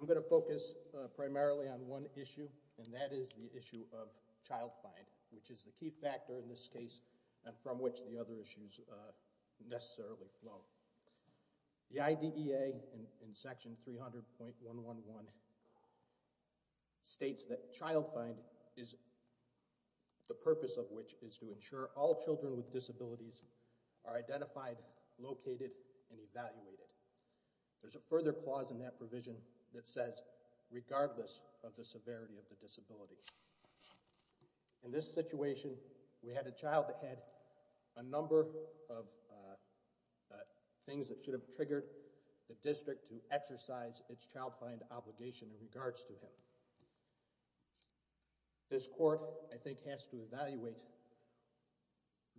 I'm going to focus primarily on one issue, and that is the issue of child find, which is the key factor in this case, and from which the other issues necessarily flow. The IDEA in section 300.111 states that child find is the purpose of which is to ensure all children with disabilities are identified, located, and evaluated. There's a further clause in that provision that says regardless of the severity of the disability. In this situation, we had a child that had a number of things that should have triggered the district to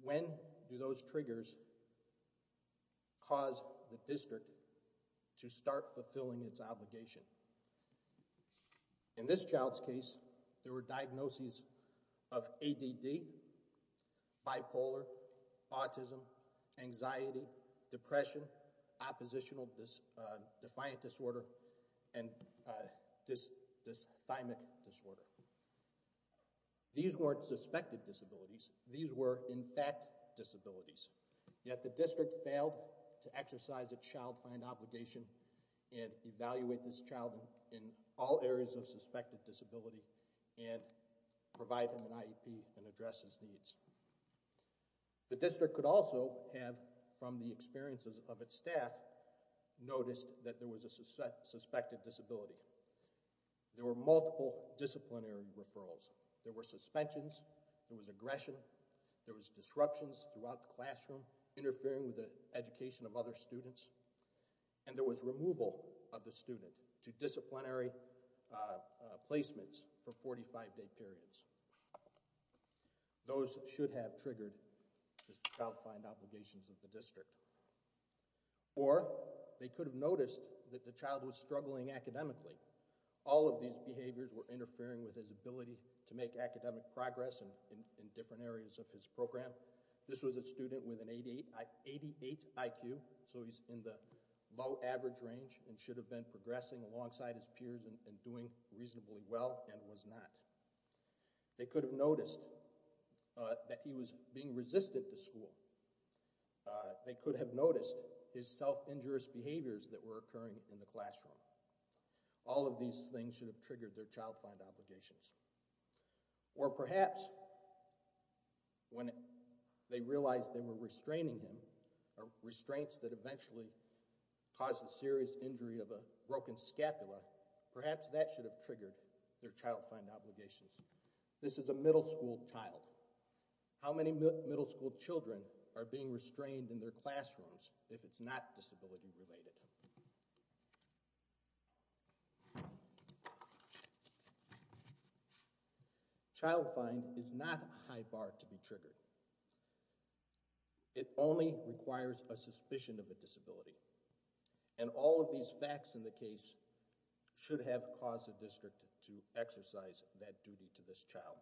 when do those triggers cause the district to start fulfilling its obligation. In this child's case, there were diagnoses of ADD, bipolar, autism, anxiety, depression, oppositional defiant disorder, and dysthymic disorder. These weren't suspected disabilities. These were, in fact, disabilities. Yet the district failed to exercise a child find obligation and evaluate this child in all areas of suspected disability and provide him an IEP and address his needs. The district could also have, from the experiences of its staff, noticed that there was a suspected disability. There were multiple disciplinary referrals. There were disruptions throughout the classroom, interfering with the education of other students, and there was removal of the student to disciplinary placements for 45-day periods. Those should have triggered the child find obligations of the district. Or they could have noticed that the child was struggling academically. All of these behaviors were interfering with his ability to academic progress in different areas of his program. This was a student with an 88 IQ, so he's in the low average range and should have been progressing alongside his peers and doing reasonably well and was not. They could have noticed that he was being resistant to school. They could have noticed his self-injurious behaviors that were occurring in the classroom. All of these things should have triggered their child find obligations. Or perhaps when they realized they were restraining him, or restraints that eventually caused a serious injury of a broken scapula, perhaps that should have triggered their child find obligations. This is a middle school child. How many middle school children are being restrained in their classrooms if it's not disability related? Child find is not a high bar to be triggered. It only requires a suspicion of a disability. And all of these facts in the case should have caused the district to exercise that child.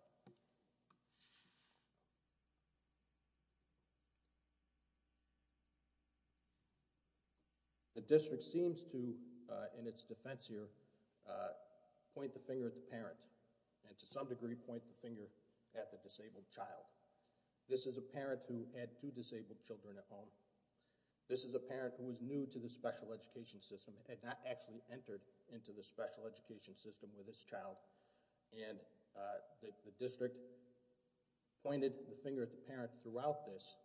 The district seems to, in its defense here, point the finger at the parent and to some degree point the finger at the disabled child. This is a parent who had two disabled children at home. This is a parent who was new to the special education system and had not actually entered into the special education system with his child. And the district pointed the finger at the parent throughout this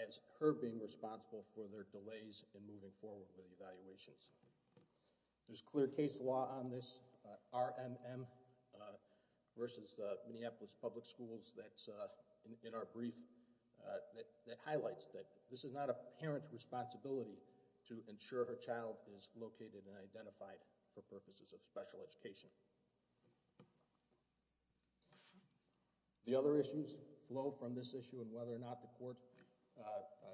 as her being responsible for their delays in moving forward with the evaluations. There's clear case law on this. RMM versus Minneapolis Public Schools that's in our brief that highlights that this is not a parent's responsibility to ensure her child is located and identified for purposes of special education. The other issues flow from this issue and whether or not the court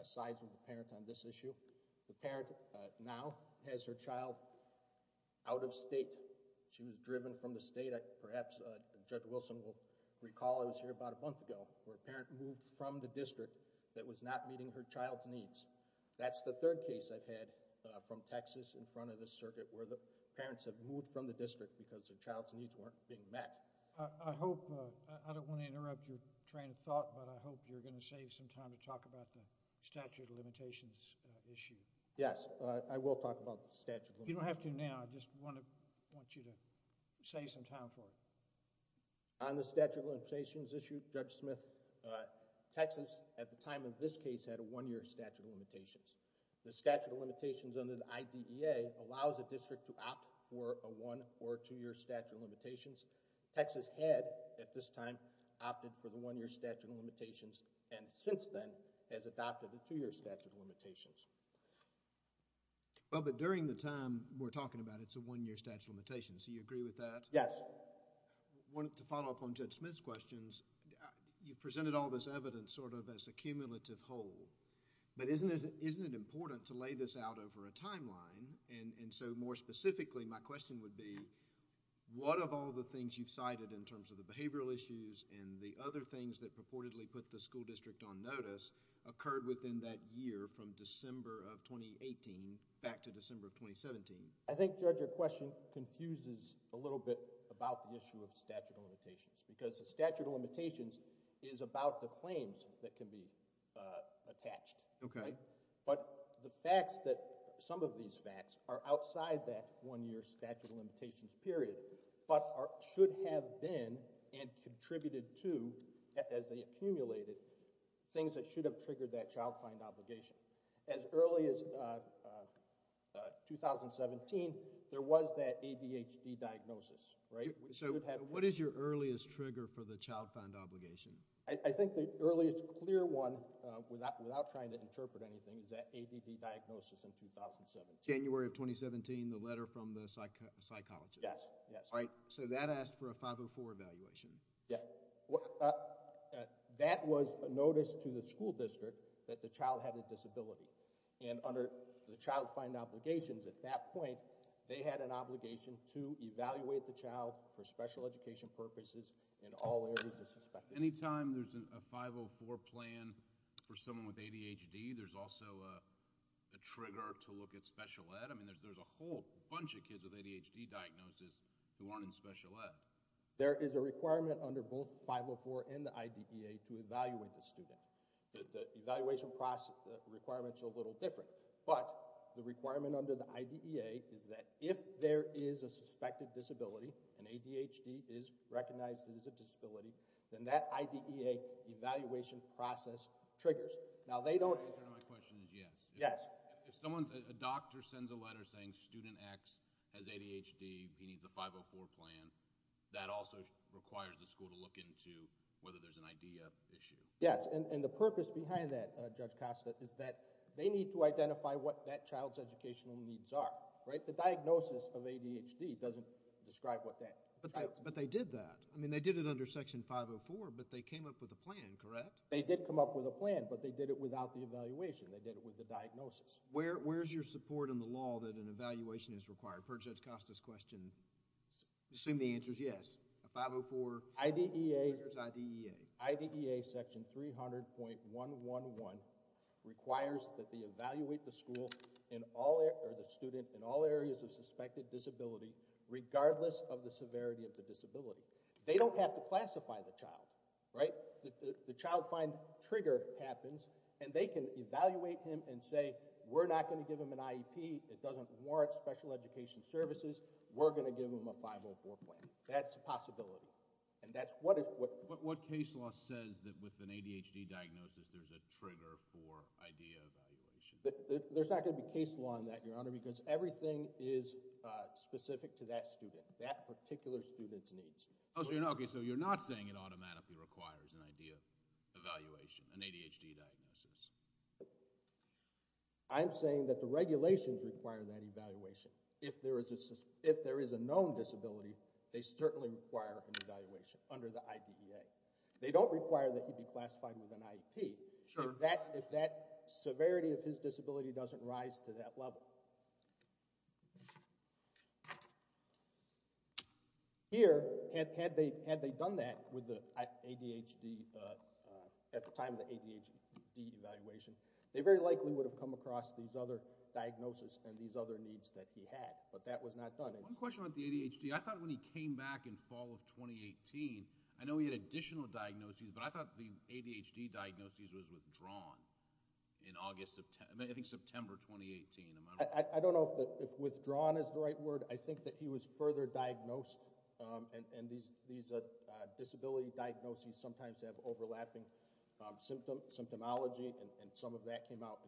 sides with the parent on this issue. The parent now has her child out of state. She was driven from the state, perhaps Judge Wilson will recall, I was here about a month ago where a parent moved from the district that was not meeting her child's needs. That's the third case I've had from Texas in front of this circuit where the parents have moved from the district because their child's needs weren't being met. I hope, I don't want to interrupt your train of thought, but I hope you're going to save some time to talk about the statute of limitations issue. Yes, I will talk about the statute. You don't have to now, I just want you to save some time for it. On the statute of limitations issue, Judge Smith, Texas at the time of this case had a one-year statute of limitations. The statute of limitations under the IDEA allows a district to opt for a one- or two-year statute of limitations. Texas had at this time opted for the one-year statute of limitations and since then has adopted the two-year statute of limitations. Well, but during the time we're talking about, it's a one-year statute of limitations. Do you agree with that? Yes. I wanted to follow up on Judge Smith's questions. You've presented all this evidence sort of as a cumulative whole, but isn't it important to lay this out over a timeline? And so more specifically, my question would be, what of all the things you've cited in terms of the behavioral issues and the other things that purportedly put the school district on notice occurred within that year from December of 2018 back to December of 2017? I think, Judge, your question confuses a little bit about the issue of statute of limitations because the statute of limitations is about the claims that can be attached, right? But the facts that some of these facts are outside that one-year statute of limitations period, but should have been and contributed to as they accumulated things that should have triggered that child find obligation. As early as 2017, there was that ADHD diagnosis, right? So what is your earliest trigger for the child find obligation? I think the earliest clear one without trying to interpret anything is that ADD diagnosis in 2017. January of 2017, the letter from the psychologist. Yes, yes. Right? So that asked for a 504 evaluation. Yeah. That was a notice to the school district that the child had a disability. And under the obligations at that point, they had an obligation to evaluate the child for special education purposes in all areas of suspect. Anytime there's a 504 plan for someone with ADHD, there's also a trigger to look at special ed. I mean, there's a whole bunch of kids with ADHD diagnosis who aren't in special ed. There is a requirement under both 504 and the IDEA to evaluate the student. The evaluation process requirements are a little different, but the requirement under the IDEA is that if there is a suspected disability and ADHD is recognized as a disability, then that IDEA evaluation process triggers. Now they don't. The answer to my question is yes. Yes. If someone's a doctor sends a letter saying student X has ADHD, he needs a 504 plan. That also requires the school to look into whether there's an idea issue. Yes. And the purpose behind that, Judge Costa, is that they need to identify what that child's educational needs are, right? The diagnosis of ADHD doesn't describe what that child's needs are. But they did that. I mean, they did it under section 504, but they came up with a plan, correct? They did come up with a plan, but they did it without the evaluation. They did it with the diagnosis. Where is your support in the law that an evaluation is required? Per Judge Costa's question, I assume the answer is yes. 504 triggers IDEA. IDEA section 300.111 requires that they evaluate the student in all areas of suspected disability, regardless of the severity of the disability. They don't have to classify the child, right? The child find trigger happens, and they can evaluate him and say, we're not going to give him an IEP. It doesn't warrant special education services. We're going to give him a 504 plan. That's a possibility. And that's what if what case law says that with an ADHD diagnosis, there's a trigger for IDEA evaluation. There's not going to be case law on that, Your Honor, because everything is specific to that student, that particular student's needs. Oh, so you're not saying it automatically requires an IDEA evaluation, an ADHD diagnosis. I'm saying that the regulations require that evaluation. If there is a known disability, they certainly require an evaluation under the IDEA. They don't require that he be classified with an IEP if that severity of his disability doesn't rise to that level. Here, had they done that with the ADHD, at the time of the ADHD evaluation, they very likely would have come across these other diagnoses and these other needs that he had. But that was not done. One question about the ADHD. I thought when he came back in fall of 2018, I know he had additional diagnoses, but I thought the ADHD diagnoses was withdrawn in August, I think September 2018. I don't know if withdrawn is the right word. I think that he was further diagnosed, and these disability diagnoses sometimes have overlapping symptomology, and some of that came out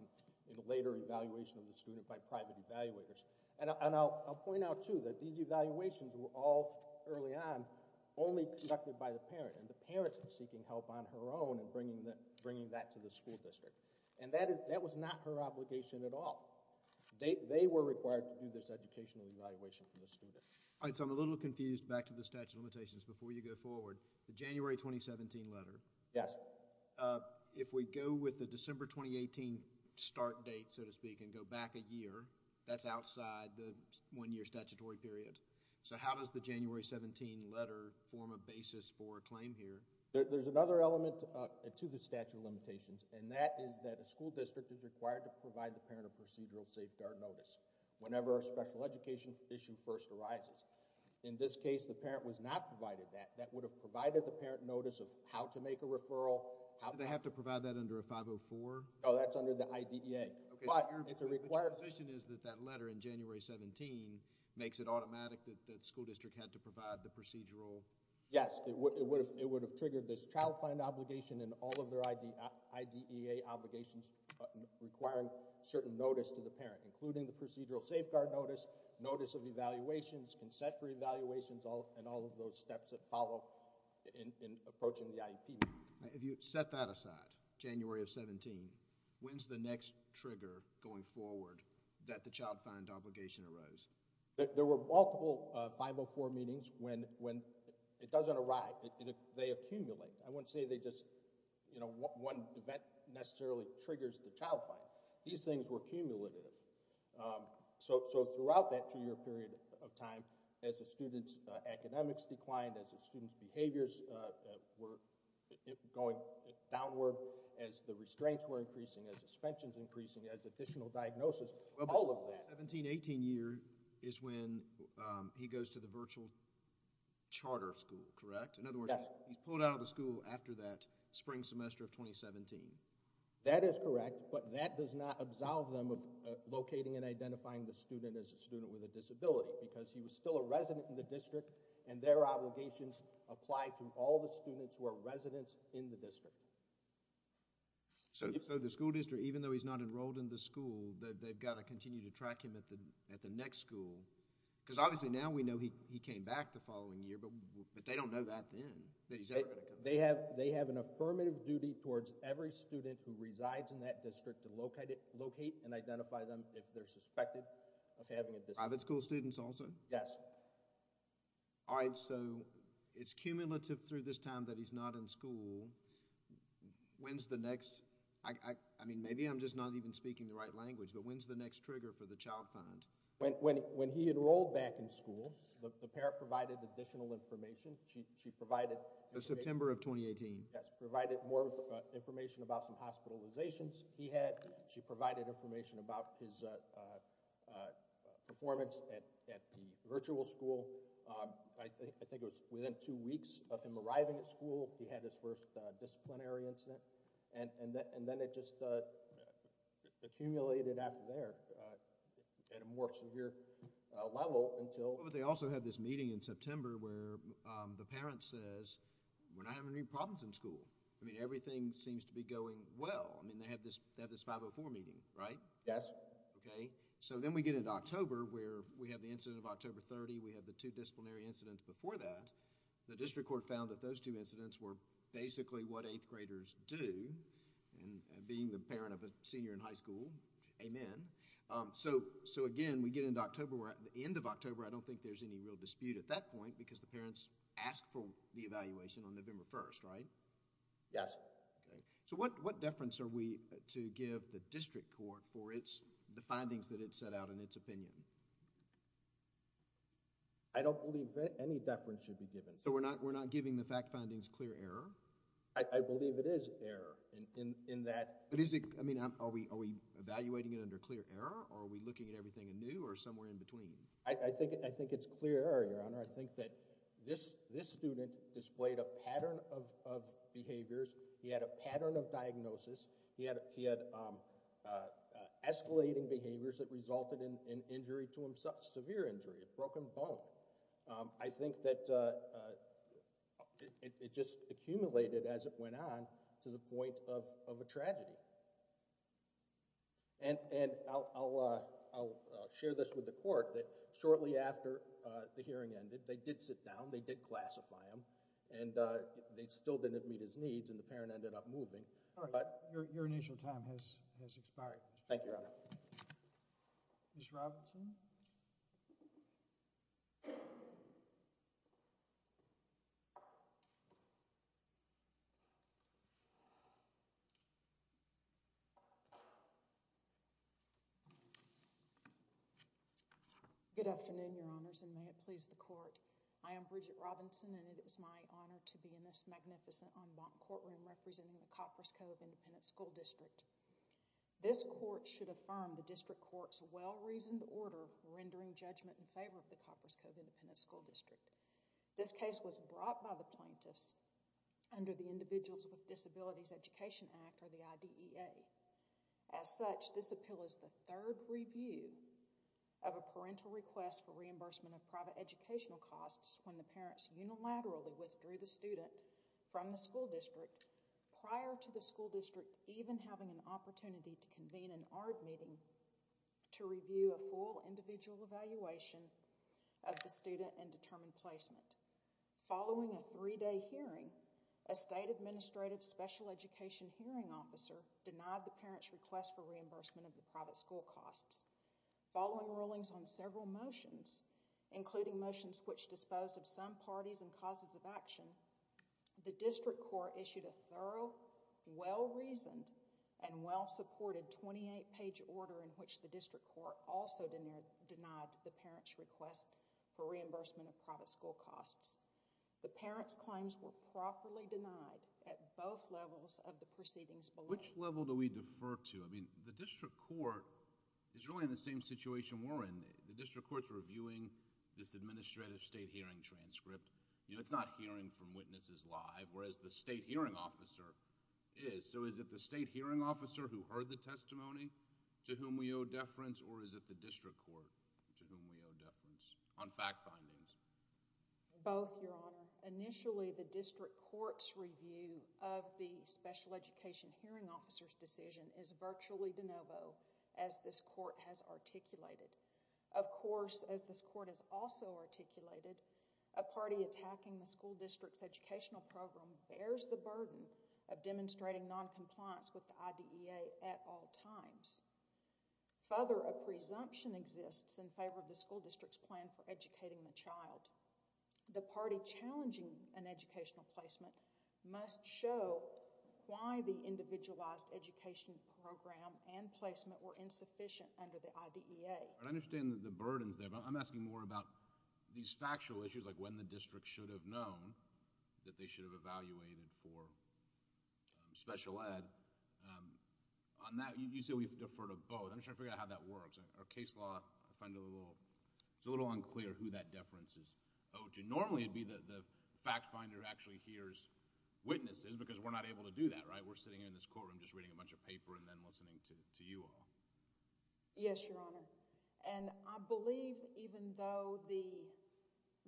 in a later evaluation of the student by private evaluators. And I'll point out, too, that these evaluations were all early on only conducted by the parent, and the parent is seeking help on her own in bringing that to the school district. And that was not her obligation at all. They were required to do this educational evaluation for the student. All right, so I'm a little confused. Back to the statute of limitations before you go forward. The January 2017 letter. Yes. If we go with the December 2018 start date, so to speak, and go back a year, that's outside the one-year statutory period. So how does the January 17 letter form a basis for a claim here? There's another element to the statute of limitations, and that is that a school district is required to provide the parent a procedural safeguard notice whenever a special education issue first arises. In this case, the parent was not provided that. That would have provided the parent notice of how to make a referral. Do they have to provide that under a 504? No, that's under the IDEA. But it's a required— Your position is that that letter in January 17 makes it automatic that the school district had to provide the procedural— Yes, it would have triggered this child find obligation and all of their IDEA obligations requiring certain notice to the parent, including the procedural safeguard notice, notice of evaluations, consent for evaluations, and all of those steps that follow in approaching the IEP meeting. If you set that aside, January of 17, when's the next trigger going forward that the child find obligation arose? There were multiple 504 meetings when it doesn't arrive. They accumulate. I wouldn't say they just, you know, one event necessarily triggers the child find. These things were cumulative. So, throughout that two-year period of time, as the student's academics declined, as the student's behaviors were going downward, as the restraints were increasing, as suspensions increasing, as additional diagnosis, all of that— The 17-18 year is when he goes to the virtual charter school, correct? Yes. In other words, he's pulled out of the school after that spring semester of 2017. That is correct, but that does not absolve them of locating and identifying the student as a student with a disability because he was still a resident in the district and their obligations apply to all the students who are residents in the district. So, the school district, even though he's not enrolled in the school, they've got to continue to track him at the next school because obviously now we know he came back the following year, but they don't know that then, that he's ever going to come back. They have an affirmative duty towards every student who resides in that district to locate and identify them if they're suspected of having a disability. Private school students also? Yes. All right. So, it's cumulative through this time that he's not in school. When's the next—I mean, maybe I'm just not even speaking the right language, but when's the next trigger for the child find? When he enrolled back in school, the parent provided additional information. She provided— September of 2018. Yes, provided more information about some hospitalizations he had. She provided information about his performance at the virtual school. I think it was within two weeks of him arriving at school, he had his first disciplinary incident, and then it just accumulated after there at a more severe level until— We're not having any problems in school. I mean, everything seems to be going well. I mean, they have this 504 meeting, right? Yes. Okay. So, then we get into October where we have the incident of October 30. We have the two disciplinary incidents before that. The district court found that those two incidents were basically what eighth graders do, and being the parent of a senior in high school, amen. So, again, we get into October. We're at the end of October. I don't think there's any real dispute at that point because the parents asked for the evaluation on November 1, right? Yes. Okay. So, what deference are we to give the district court for the findings that it set out in its opinion? I don't believe any deference should be given. So, we're not giving the fact findings clear error? I believe it is error in that— But is it— I mean, are we evaluating it under clear error, or are we looking at everything anew or somewhere in between? I think it's clear error, Your Honor. I think that this student displayed a pattern of behaviors. He had a pattern of diagnosis. He had escalating behaviors that resulted in injury to himself, severe injury, a broken bone. I think that it just accumulated as it went on to the point of a tragedy. And I'll share this with the court that shortly after the hearing ended, they did sit down. They did classify him, and they still didn't meet his needs, and the parent ended up moving, but— Your initial time has expired. Thank you, Your Honor. Ms. Robertson? Good afternoon, Your Honors, and may it please the court. I am Bridget Robinson, and it is my honor to be in this magnificent en banc courtroom representing the Coppers Cove Independent School District. This court should affirm the district court's well-reasoned order rendering judgment in favor of the Coppers Cove Independent School District. This case was brought by the plaintiffs under the Individuals with Disabilities Education Act, or the IDEA. As such, this appeal is the third review of a parental request for reimbursement of private educational costs when the parents unilaterally withdrew the student from the school district prior to the school district even having an opportunity to convene an ARD meeting to review a full individual evaluation of the student and determine placement. Following a three-day hearing, a state administrative special education hearing officer denied the parents' request for reimbursement of the private school costs. Following rulings on several motions, including motions which disposed of some parties and causes of action, the district court issued a thorough, well-reasoned, and well-supported 28-page order in which the district court also denied the parents' request for reimbursement of private school costs. The parents' claims were properly denied at both levels of the proceedings below. Which level do we defer to? I mean, the district court is really in the same situation we're in. The district court's reviewing this administrative state hearing transcript. You know, it's not hearing from witnesses live, whereas the state hearing officer is. So is it the state hearing officer who heard the testimony to whom we owe deference, or is it the district court to whom we owe deference? On fact findings. Both, Your Honor. Initially, the district court's review of the special education hearing officer's decision is virtually de novo, as this court has articulated. Of course, as this court has also articulated, a party attacking the school district's educational program bears the burden of demonstrating noncompliance with the IDEA at all times. Further, a presumption exists in favor of the school district's plan for educating the child. The party challenging an educational placement must show why the individualized education program and placement were insufficient under the IDEA. I understand the burdens there, but I'm asking more about these factual issues, like when the district should have known that they should have evaluated for special ed. Um, on that, you say we've deferred to both. I'm just trying to figure out how that works. Our case law, I find it a little, it's a little unclear who that deference is owed to. Normally, it'd be the fact finder who actually hears witnesses, because we're not able to do that, right? We're sitting here in this courtroom just reading a bunch of paper, and then listening to you all. Yes, Your Honor. And I believe even though the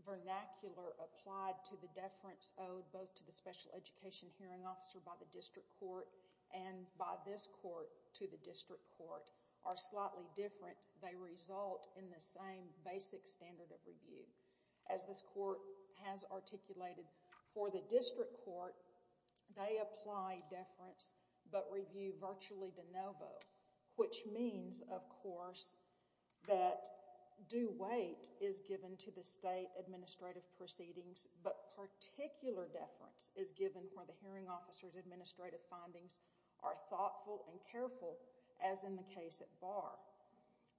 vernacular applied to the deference owed both to the special education hearing officer by the district court, and by this court to the district court, are slightly different, they result in the same basic standard of review. As this court has articulated for the district court, they apply deference, but review virtually de novo, which means, of course, that due weight is given to the state administrative proceedings, but particular deference is given for the hearing officer's administrative findings are thoughtful and careful, as in the case at Barr.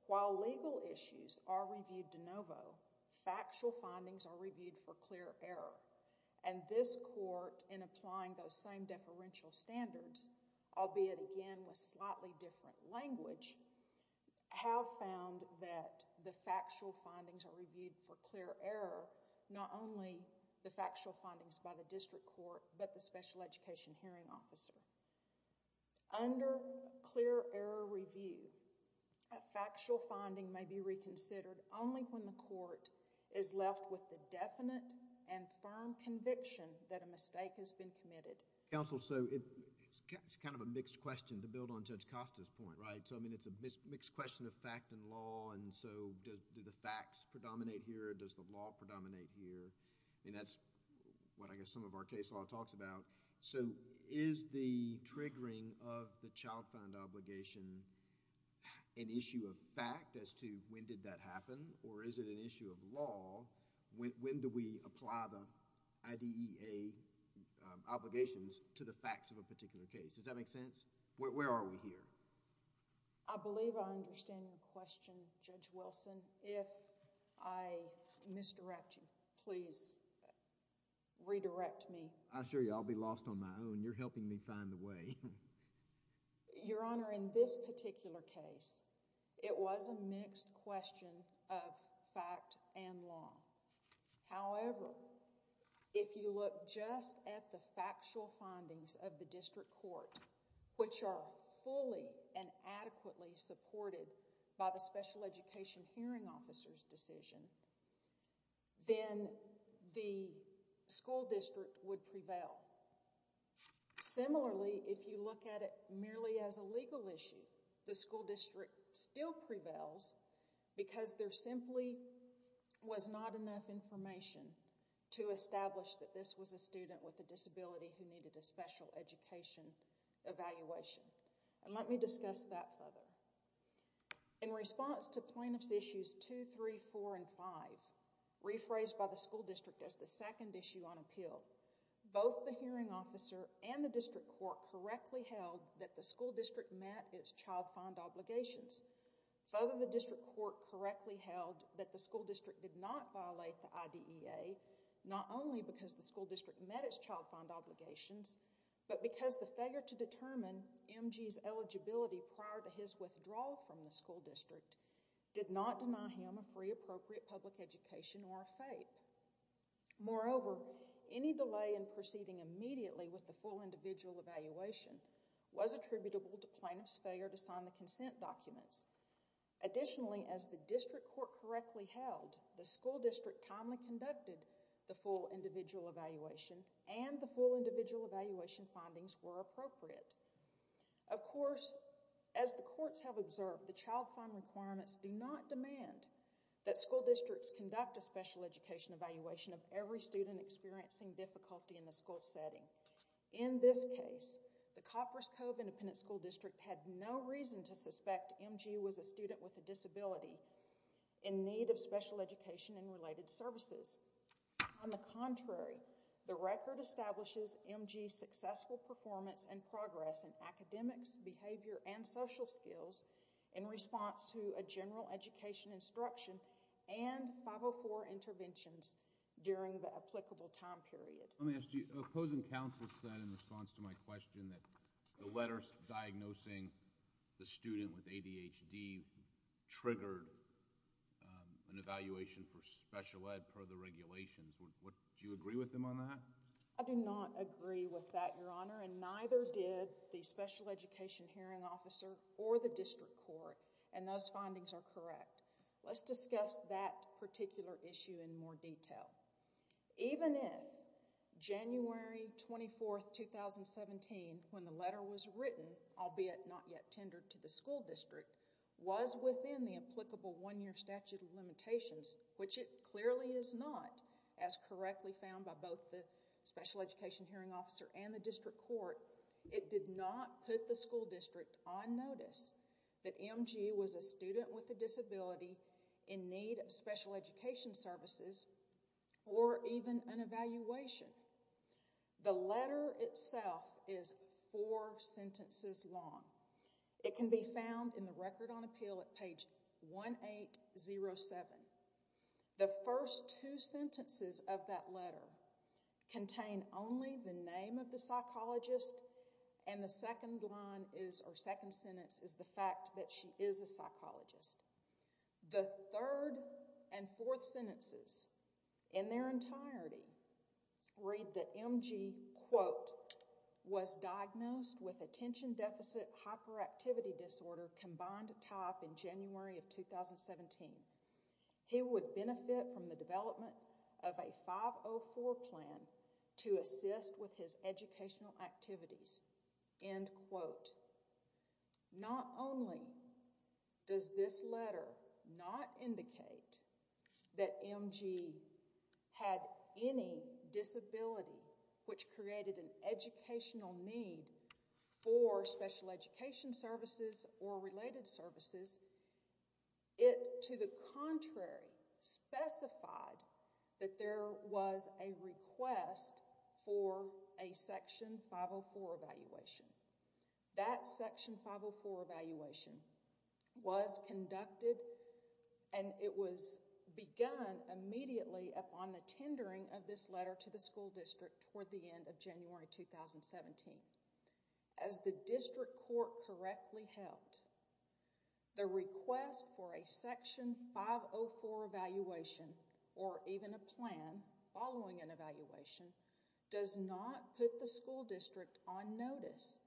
While legal issues are reviewed de novo, factual findings are reviewed for clear error. And this court, in applying those same deferential standards, albeit again with slightly different language, have found that the factual findings are reviewed for clear error, not only the factual findings by the district court, but the special education hearing officer. Under clear error review, a factual finding may be reconsidered only when the court is left with the definite and firm conviction that a mistake has been committed. Counsel, so it's kind of a mixed question to build on Judge Costa's point, right? So, I mean, it's a mixed question of fact and law, and so do the facts predominate here? Does the law predominate here? I mean, that's what I guess some of our case law talks about. So, is the triggering of the child found obligation an issue of fact as to when did that happen, or is it an issue of law? When do we apply the IDEA obligations to the facts of a particular case? Does that make sense? Where are we here? I believe I understand your question, Judge Wilson. If I misdirect you, please redirect me. I assure you I'll be lost on my own. You're helping me find the way. Your Honor, in this particular case, it was a mixed question of fact and law. However, if you look just at the factual findings of the district court, which are fully and adequately supported by the special education hearing officer's decision, then the school district would prevail. Similarly, if you look at it merely as a legal issue, the school district still prevails because there simply was not enough information to establish that this was a student with a disability who needed a special education evaluation, and let me discuss that further. In response to plaintiffs' issues 2, 3, 4, and 5, rephrased by the school district as the second issue on appeal, both the hearing officer and the district court correctly held that the school district met its child found obligations. Further, the district court correctly held that the school district did not violate the IDEA, not only because the school district met its child found obligations, but because the failure to determine M.G.'s eligibility prior to his withdrawal from the school district did not deny him a free appropriate public education or a FAPE. Moreover, any delay in proceeding immediately with the full individual evaluation was attributable to plaintiff's failure to sign the consent documents. Additionally, as the district court correctly held, the school district timely conducted the full individual evaluation and the full individual evaluation findings were appropriate. Of course, as the courts have observed, the child found requirements do not demand that school districts conduct a special education evaluation of every student experiencing difficulty in the school setting. In this case, the Coppers Cove Independent School District had no reason to suspect M.G. was a student with a disability in need of special education and related services. On the contrary, the record establishes M.G.'s successful performance and progress in academics, behavior, and social skills in response to a general education instruction and 504 interventions during the applicable time period. Let me ask you, opposing counsel said in response to my question that the letters diagnosing the student with ADHD triggered an evaluation for special ed per the regulations. Do you agree with him on that? I do not agree with that, Your Honor, and neither did the special education hearing officer or the district court, and those findings are correct. Let's discuss that particular issue in more detail. Even if January 24, 2017, when the letter was written, albeit not yet tendered to the school district, was within the applicable one-year statute of limitations, which it was not, as correctly found by both the special education hearing officer and the district court, it did not put the school district on notice that M.G. was a student with a disability in need of special education services or even an evaluation. The letter itself is four sentences long. It can be found in the Record on Appeal at page 1807. The first two sentences of that letter contain only the name of the psychologist, and the second sentence is the fact that she is a psychologist. The third and fourth sentences in their entirety read that M.G., quote, was diagnosed with attention deficit hyperactivity disorder combined to top in January of 2017. He would benefit from the development of a 504 plan to assist with his educational activities, end quote. Not only does this letter not indicate that M.G. had any disability which created an educational need for special education services or related services, it, to the contrary, specified that there was a request for a section 504 evaluation. That section 504 evaluation was conducted, and it was begun immediately upon the tendering of this letter to the school district toward the end of January 2017. As the district court correctly held, the request for a section 504 evaluation or even a plan following an evaluation does not put the school district on notice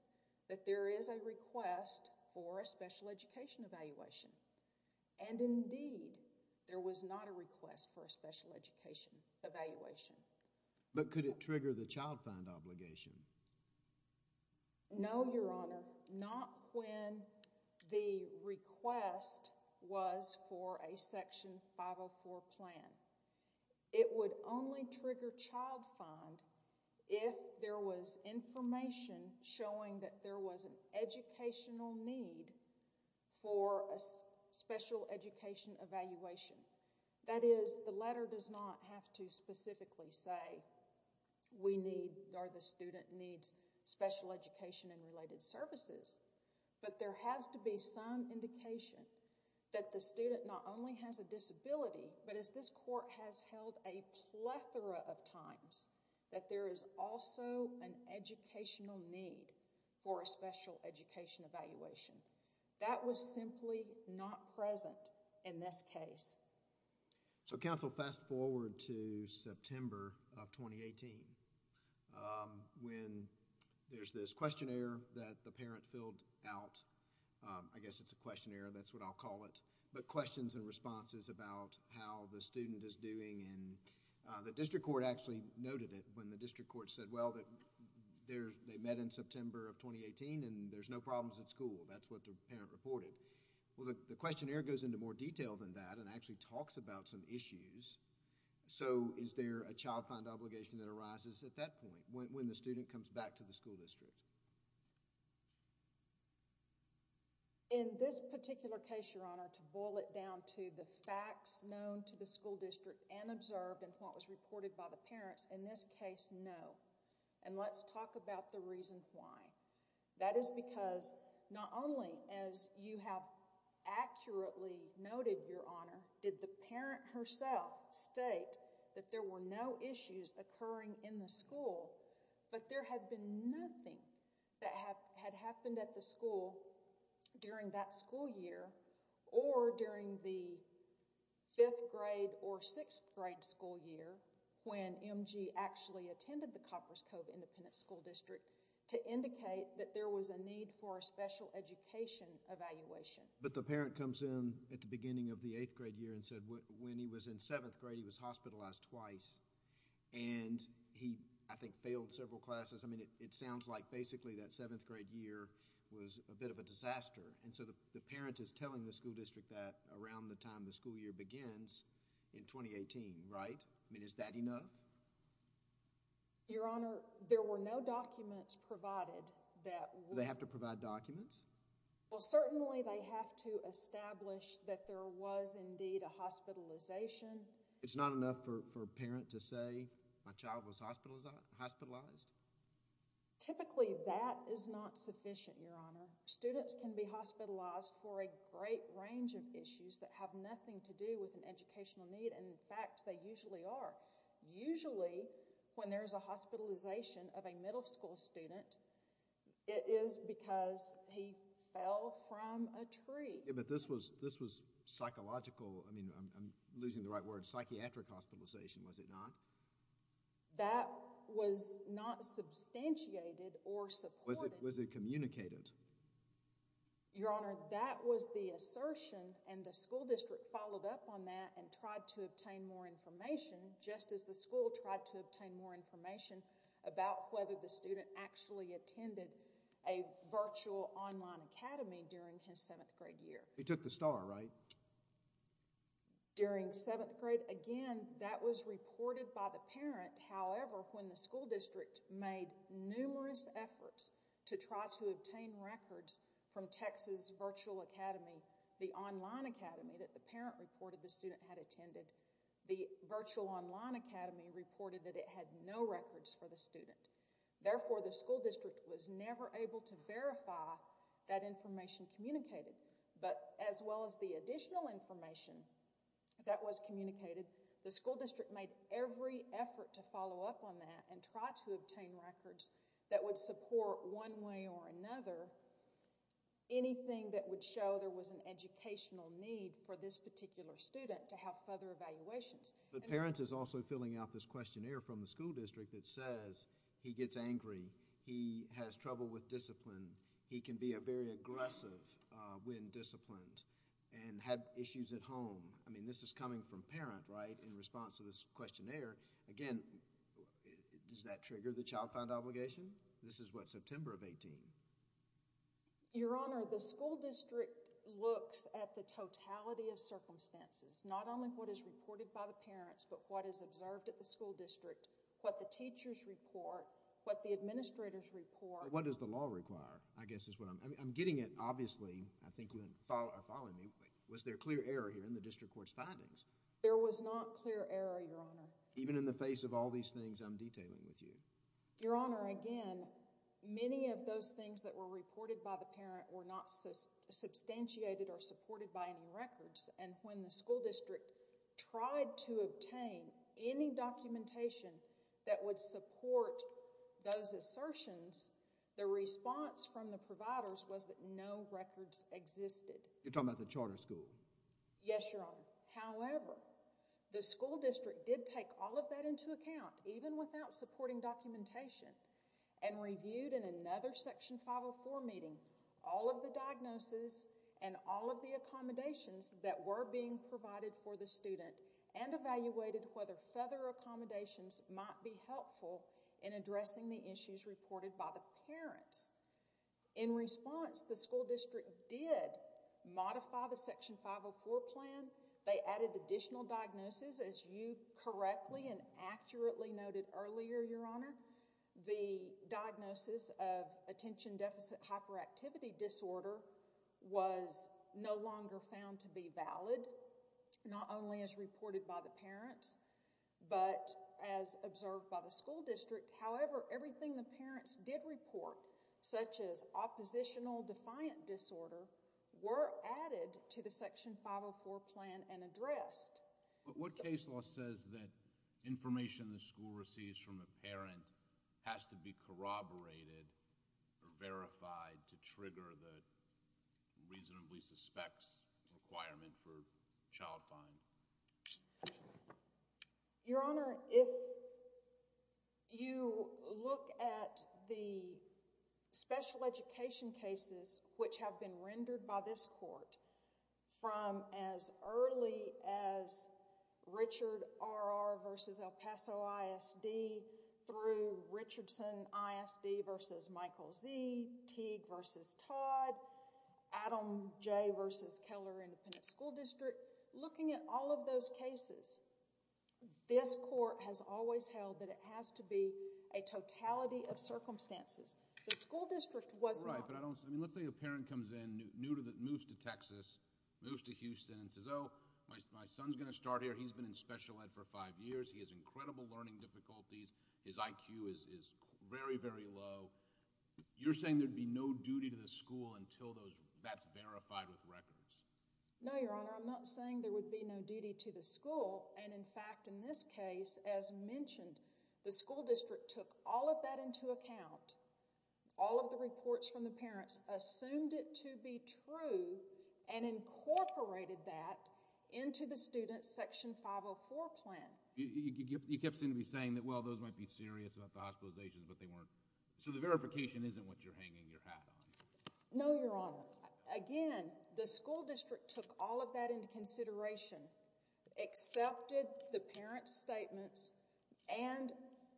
that there is a request for a special education evaluation, and indeed, there was not a request for a special education evaluation. But could it trigger the child fund obligation? No, Your Honor. Not when the request was for a section 504 plan. It would only trigger child fund if there was information showing that there was an educational need for a special education evaluation. That is, the letter does not have to specifically say we need or the student needs special education and related services, but there has to be some indication that the student not only has a disability, but as this court has held a plethora of times, that there is also an educational need for a special education evaluation. That was simply not present in this case. So, counsel, fast forward to September of 2018 when there's this questionnaire that the parent filled out. I guess it's a questionnaire, that's what I'll call it, but questions and responses about how the student is doing and the district court actually noted it when the district court said, well, they met in September of 2018 and there's no problems at school. That's what the parent reported. Well, the questionnaire goes into more detail than that and actually talks about some issues. So, is there a child fund obligation that arises at that point when the student comes back to the school district? In this particular case, Your Honor, to boil it down to the facts known to the school district and observed and what was reported by the parents, in this case, no, and let's talk about the reason why. That is because not only as you have accurately noted, Your Honor, did the parent herself state that there were no issues occurring in the school but there had been nothing that had happened at the school during that school year or during the fifth grade or sixth grade school year when MG actually attended the Copper's Cove Independent School District to indicate that there was a need for a special education evaluation. But the parent comes in at the beginning of the eighth grade year and said when he was in seventh grade, he was hospitalized twice and he, I think, failed several classes. I mean, it sounds like basically that seventh grade year was a bit of a disaster and so the parent is telling the school district that around the time the school year begins in 2018, right? I mean, is that enough? Your Honor, there were no documents provided that— They have to provide documents? Well, certainly, they have to establish that there was indeed a hospitalization. It's not enough for a parent to say my child was hospitalized? Typically, that is not sufficient, Your Honor. Students can be hospitalized for a great range of issues that have nothing to do with educational need and, in fact, they usually are. Usually, when there's a hospitalization of a middle school student, it is because he fell from a tree. But this was psychological—I mean, I'm losing the right word—psychiatric hospitalization, was it not? That was not substantiated or supported. Was it communicated? Your Honor, that was the assertion and the school district followed up on that and tried to obtain more information, just as the school tried to obtain more information about whether the student actually attended a virtual online academy during his seventh grade year. He took the star, right? During seventh grade, again, that was reported by the parent. However, when the school district made numerous efforts to try to obtain records from Texas Virtual Academy, the online academy that the parent reported the student had attended, the virtual online academy reported that it had no records for the student. Therefore, the school district was never able to verify that information communicated, but as well as the additional information that was communicated, the school district made every effort to follow up on that and try to obtain records that would support, one way or another, anything that would show there was an educational need for this particular student to have further evaluations. But parents is also filling out this questionnaire from the school district that says he gets angry, he has trouble with discipline, he can be a very aggressive when disciplined and had issues at home. I mean, this is coming from parent, right, in response to this questionnaire. Again, does that trigger the child found obligation? This is what, September of 18? Your Honor, the school district looks at the totality of circumstances, not only what is reported by the parents, but what is observed at the school district, what the teachers report, what the administrators report. What does the law require, I guess is what I'm getting at. Obviously, I think you are following me, but was there clear error here in the district court's findings? There was not clear error, Your Honor. Even in the face of all these things I'm detailing with you? Your Honor, again, many of those things that were reported by the parent were not substantiated or supported by any records, and when the school district tried to obtain any documentation that would support those assertions, the response from the providers was that no records existed. You're talking about the charter school? Yes, Your Honor. However, the school district did take all of that into account, even without supporting documentation, and reviewed in another Section 504 meeting all of the diagnoses and all of the accommodations that were being provided for the student and evaluated whether further accommodations might be helpful in addressing the issues reported by the parents. In response, the school district did modify the Section 504 plan. They added additional diagnosis, as you correctly and accurately noted earlier, Your Honor. The diagnosis of attention deficit hyperactivity disorder was no longer found to be valid, not only as reported by the parents, but as observed by the school district. However, everything the parents did report, such as oppositional defiant disorder, were added to the Section 504 plan and addressed. What case law says that information the school receives from a parent has to be corroborated or verified to trigger the reasonably suspects requirement for child fine? Your Honor, if you look at the special education cases which have been rendered by this court from as early as Richard R.R. versus El Paso ISD through Richardson ISD versus Michael Z., Teague versus Todd, Adam J. versus Keller Independent School District, looking at all of those cases, this court has always held that it has to be a totality of circumstances. The school district was not. Right, but let's say a parent comes in, moves to Texas, moves to Houston and says, oh, my son's going to start here. He's been in special ed for five years. He has incredible learning difficulties. His IQ is very, very low. You're saying there'd be no duty to the school until that's verified with records? No, Your Honor. I'm not saying there would be no duty to the school. And, in fact, in this case, as mentioned, the school district took all of that into account. All of the reports from the parents assumed it to be true and incorporated that into the student's Section 504 plan. You kept seeming to be saying that, well, those might be serious about the hospitalizations, but they weren't. So the verification isn't what you're hanging your hat on. No, Your Honor. Again, the school district took all of that into consideration, accepted the parent's statements, and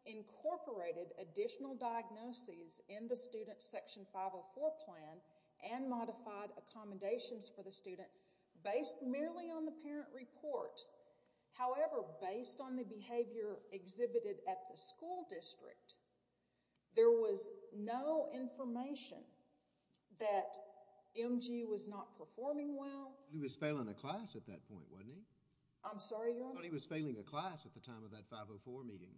incorporated additional diagnoses in the student's Section 504 plan and modified accommodations for the student based merely on the parent reports. However, based on the behavior exhibited at the school district, there was no information that MG was not performing well. He was failing a class at that point, wasn't he? I'm sorry, Your Honor? He was failing a class at the time of that 504 meeting.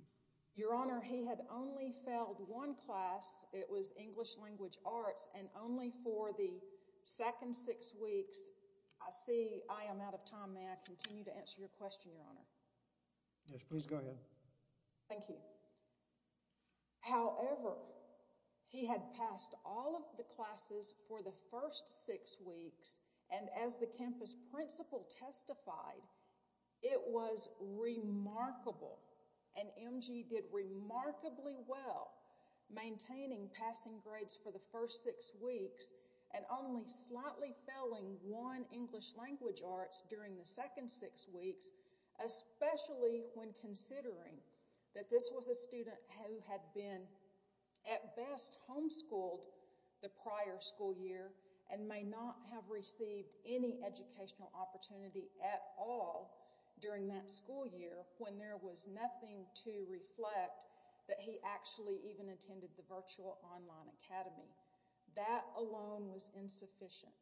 Your Honor, he had only failed one class. It was English Language Arts, and only for the second six weeks. I see I am out of time. May I continue to answer your question, Your Honor? Yes, please go ahead. Thank you. However, he had passed all of the classes for the first six weeks, and as the campus principal testified, it was remarkable. And MG did remarkably well maintaining passing grades for the first six weeks, and only slightly failing one English Language Arts during the second six weeks, especially when considering that this was a student who had been, at best, homeschooled the prior school year, and may not have received any educational opportunity at all during that school year when there was nothing to reflect that he actually even attended the Virtual Online Academy. That alone was insufficient.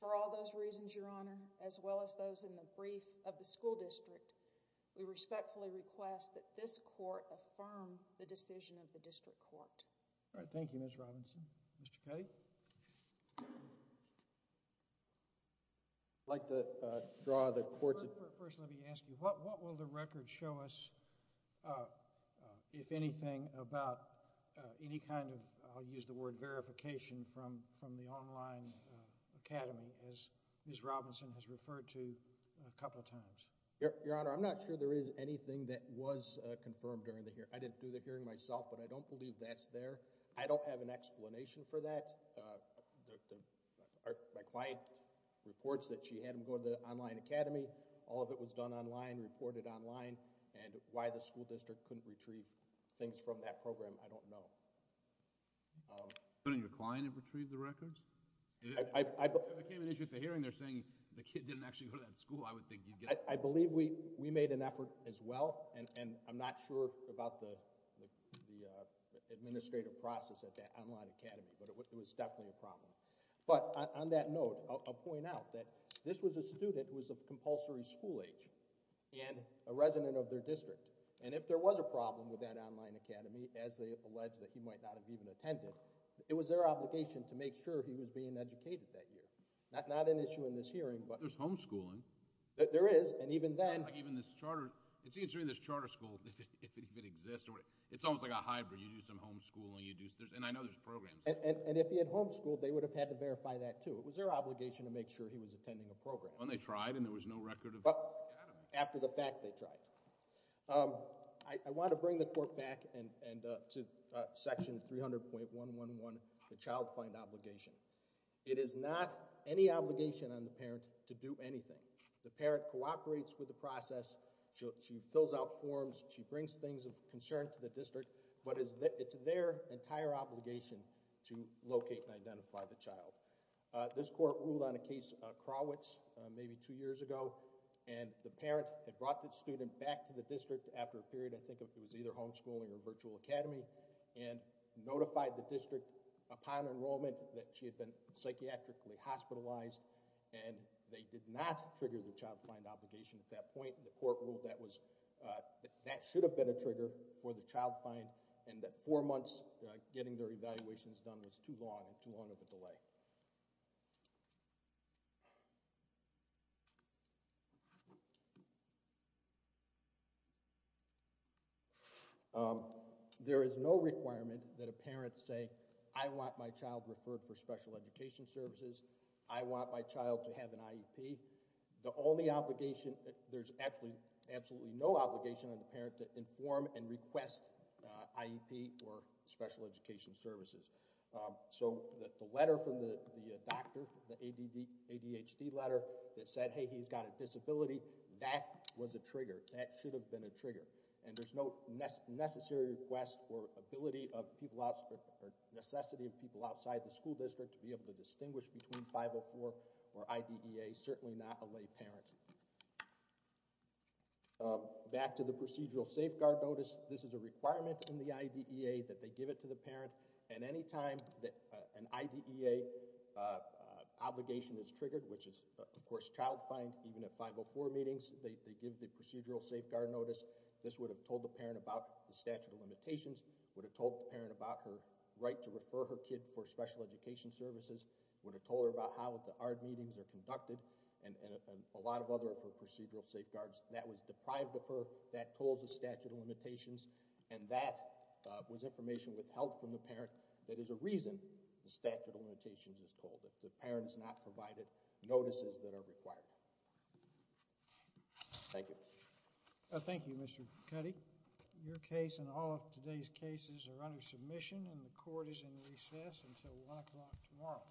For all those reasons, Your Honor, as well as those in the brief of the school district, we respectfully request that this court affirm the decision of the district court. All right, thank you, Ms. Robinson. Mr. Cuddy? I'd like to draw the court's attention... First, let me ask you, what will the record show us, if anything, about any kind of, I'll use the word, verification from the Online Academy, as Ms. Robinson has referred to a couple of times? Your Honor, I'm not sure there is anything that was confirmed during the hearing. I didn't do the hearing myself, but I don't believe that's there. I don't have an explanation for that. My client reports that she had him go to the Online Academy. All of it was done online, reported online, and why the school district couldn't retrieve things from that program, I don't know. Couldn't your client have retrieved the records? If it became an issue at the hearing, they're saying the kid didn't actually go to that school, I would think you'd get... I believe we made an effort as well, and I'm not sure about the administrative process at that Online Academy, but it was definitely a problem. But on that note, I'll point out that this was a student who was of compulsory school age and a resident of their district, and if there was a problem with that Online Academy, as they allege that he might not have even attended, it was their obligation to make sure he was being educated that year. Not an issue in this hearing, but... There's homeschooling. There is, and even then... It's not like even this charter... it seems to me this charter school, if it even exists, it's almost like a hybrid. You do some homeschooling, you do... and I know there's programs. And if he had homeschooled, they would have had to verify that too. It was their obligation to make sure he was attending a program. Well, and they tried, and there was no record of the Academy. After the fact, they tried. I want to bring the court back to Section 300.111, the Child Find Obligation. It is not any obligation on the parent to do anything. The parent cooperates with the process. She fills out forms. She brings things of concern to the district, but it's their entire obligation to locate and identify the child. This court ruled on a case, Krawitz, maybe two years ago, and the parent had brought the student back to the district after a period, I think it was either homeschooling or virtual academy, and notified the district upon enrollment that she had been psychiatrically hospitalized, and they did not trigger the Child Find Obligation at that point. The court ruled that was... that should have been a trigger for the Child Find, and that four months getting their evaluations done was too long and too long of a delay. Um, there is no requirement that a parent say, I want my child referred for special education services. I want my child to have an IEP. The only obligation... there's actually absolutely no obligation on the parent to inform and request IEP or special education services. So, the letter from the doctor, the ADHD letter that said, hey, he's got a disability, that was a trigger. That should have been a trigger. And there's no necessary request or ability of people outside... necessity of people outside the school district to be able to distinguish between 504 or IDEA, certainly not a lay parent. Back to the procedural safeguard notice. At any time that an IDEA obligation is triggered, which is of course Child Find, even at 504 meetings, they give the procedural safeguard notice. This would have told the parent about the statute of limitations, would have told the parent about her right to refer her kid for special education services, would have told her about how the ARD meetings are conducted, and a lot of other procedural safeguards. That was deprived of her. That told the statute of limitations. And that was information withheld from the parent. That is a reason the statute of limitations is called, if the parent's not provided notices that are required. Thank you. Thank you, Mr. Cuddy. Your case and all of today's cases are under submission and the court is in recess until 1 o'clock tomorrow.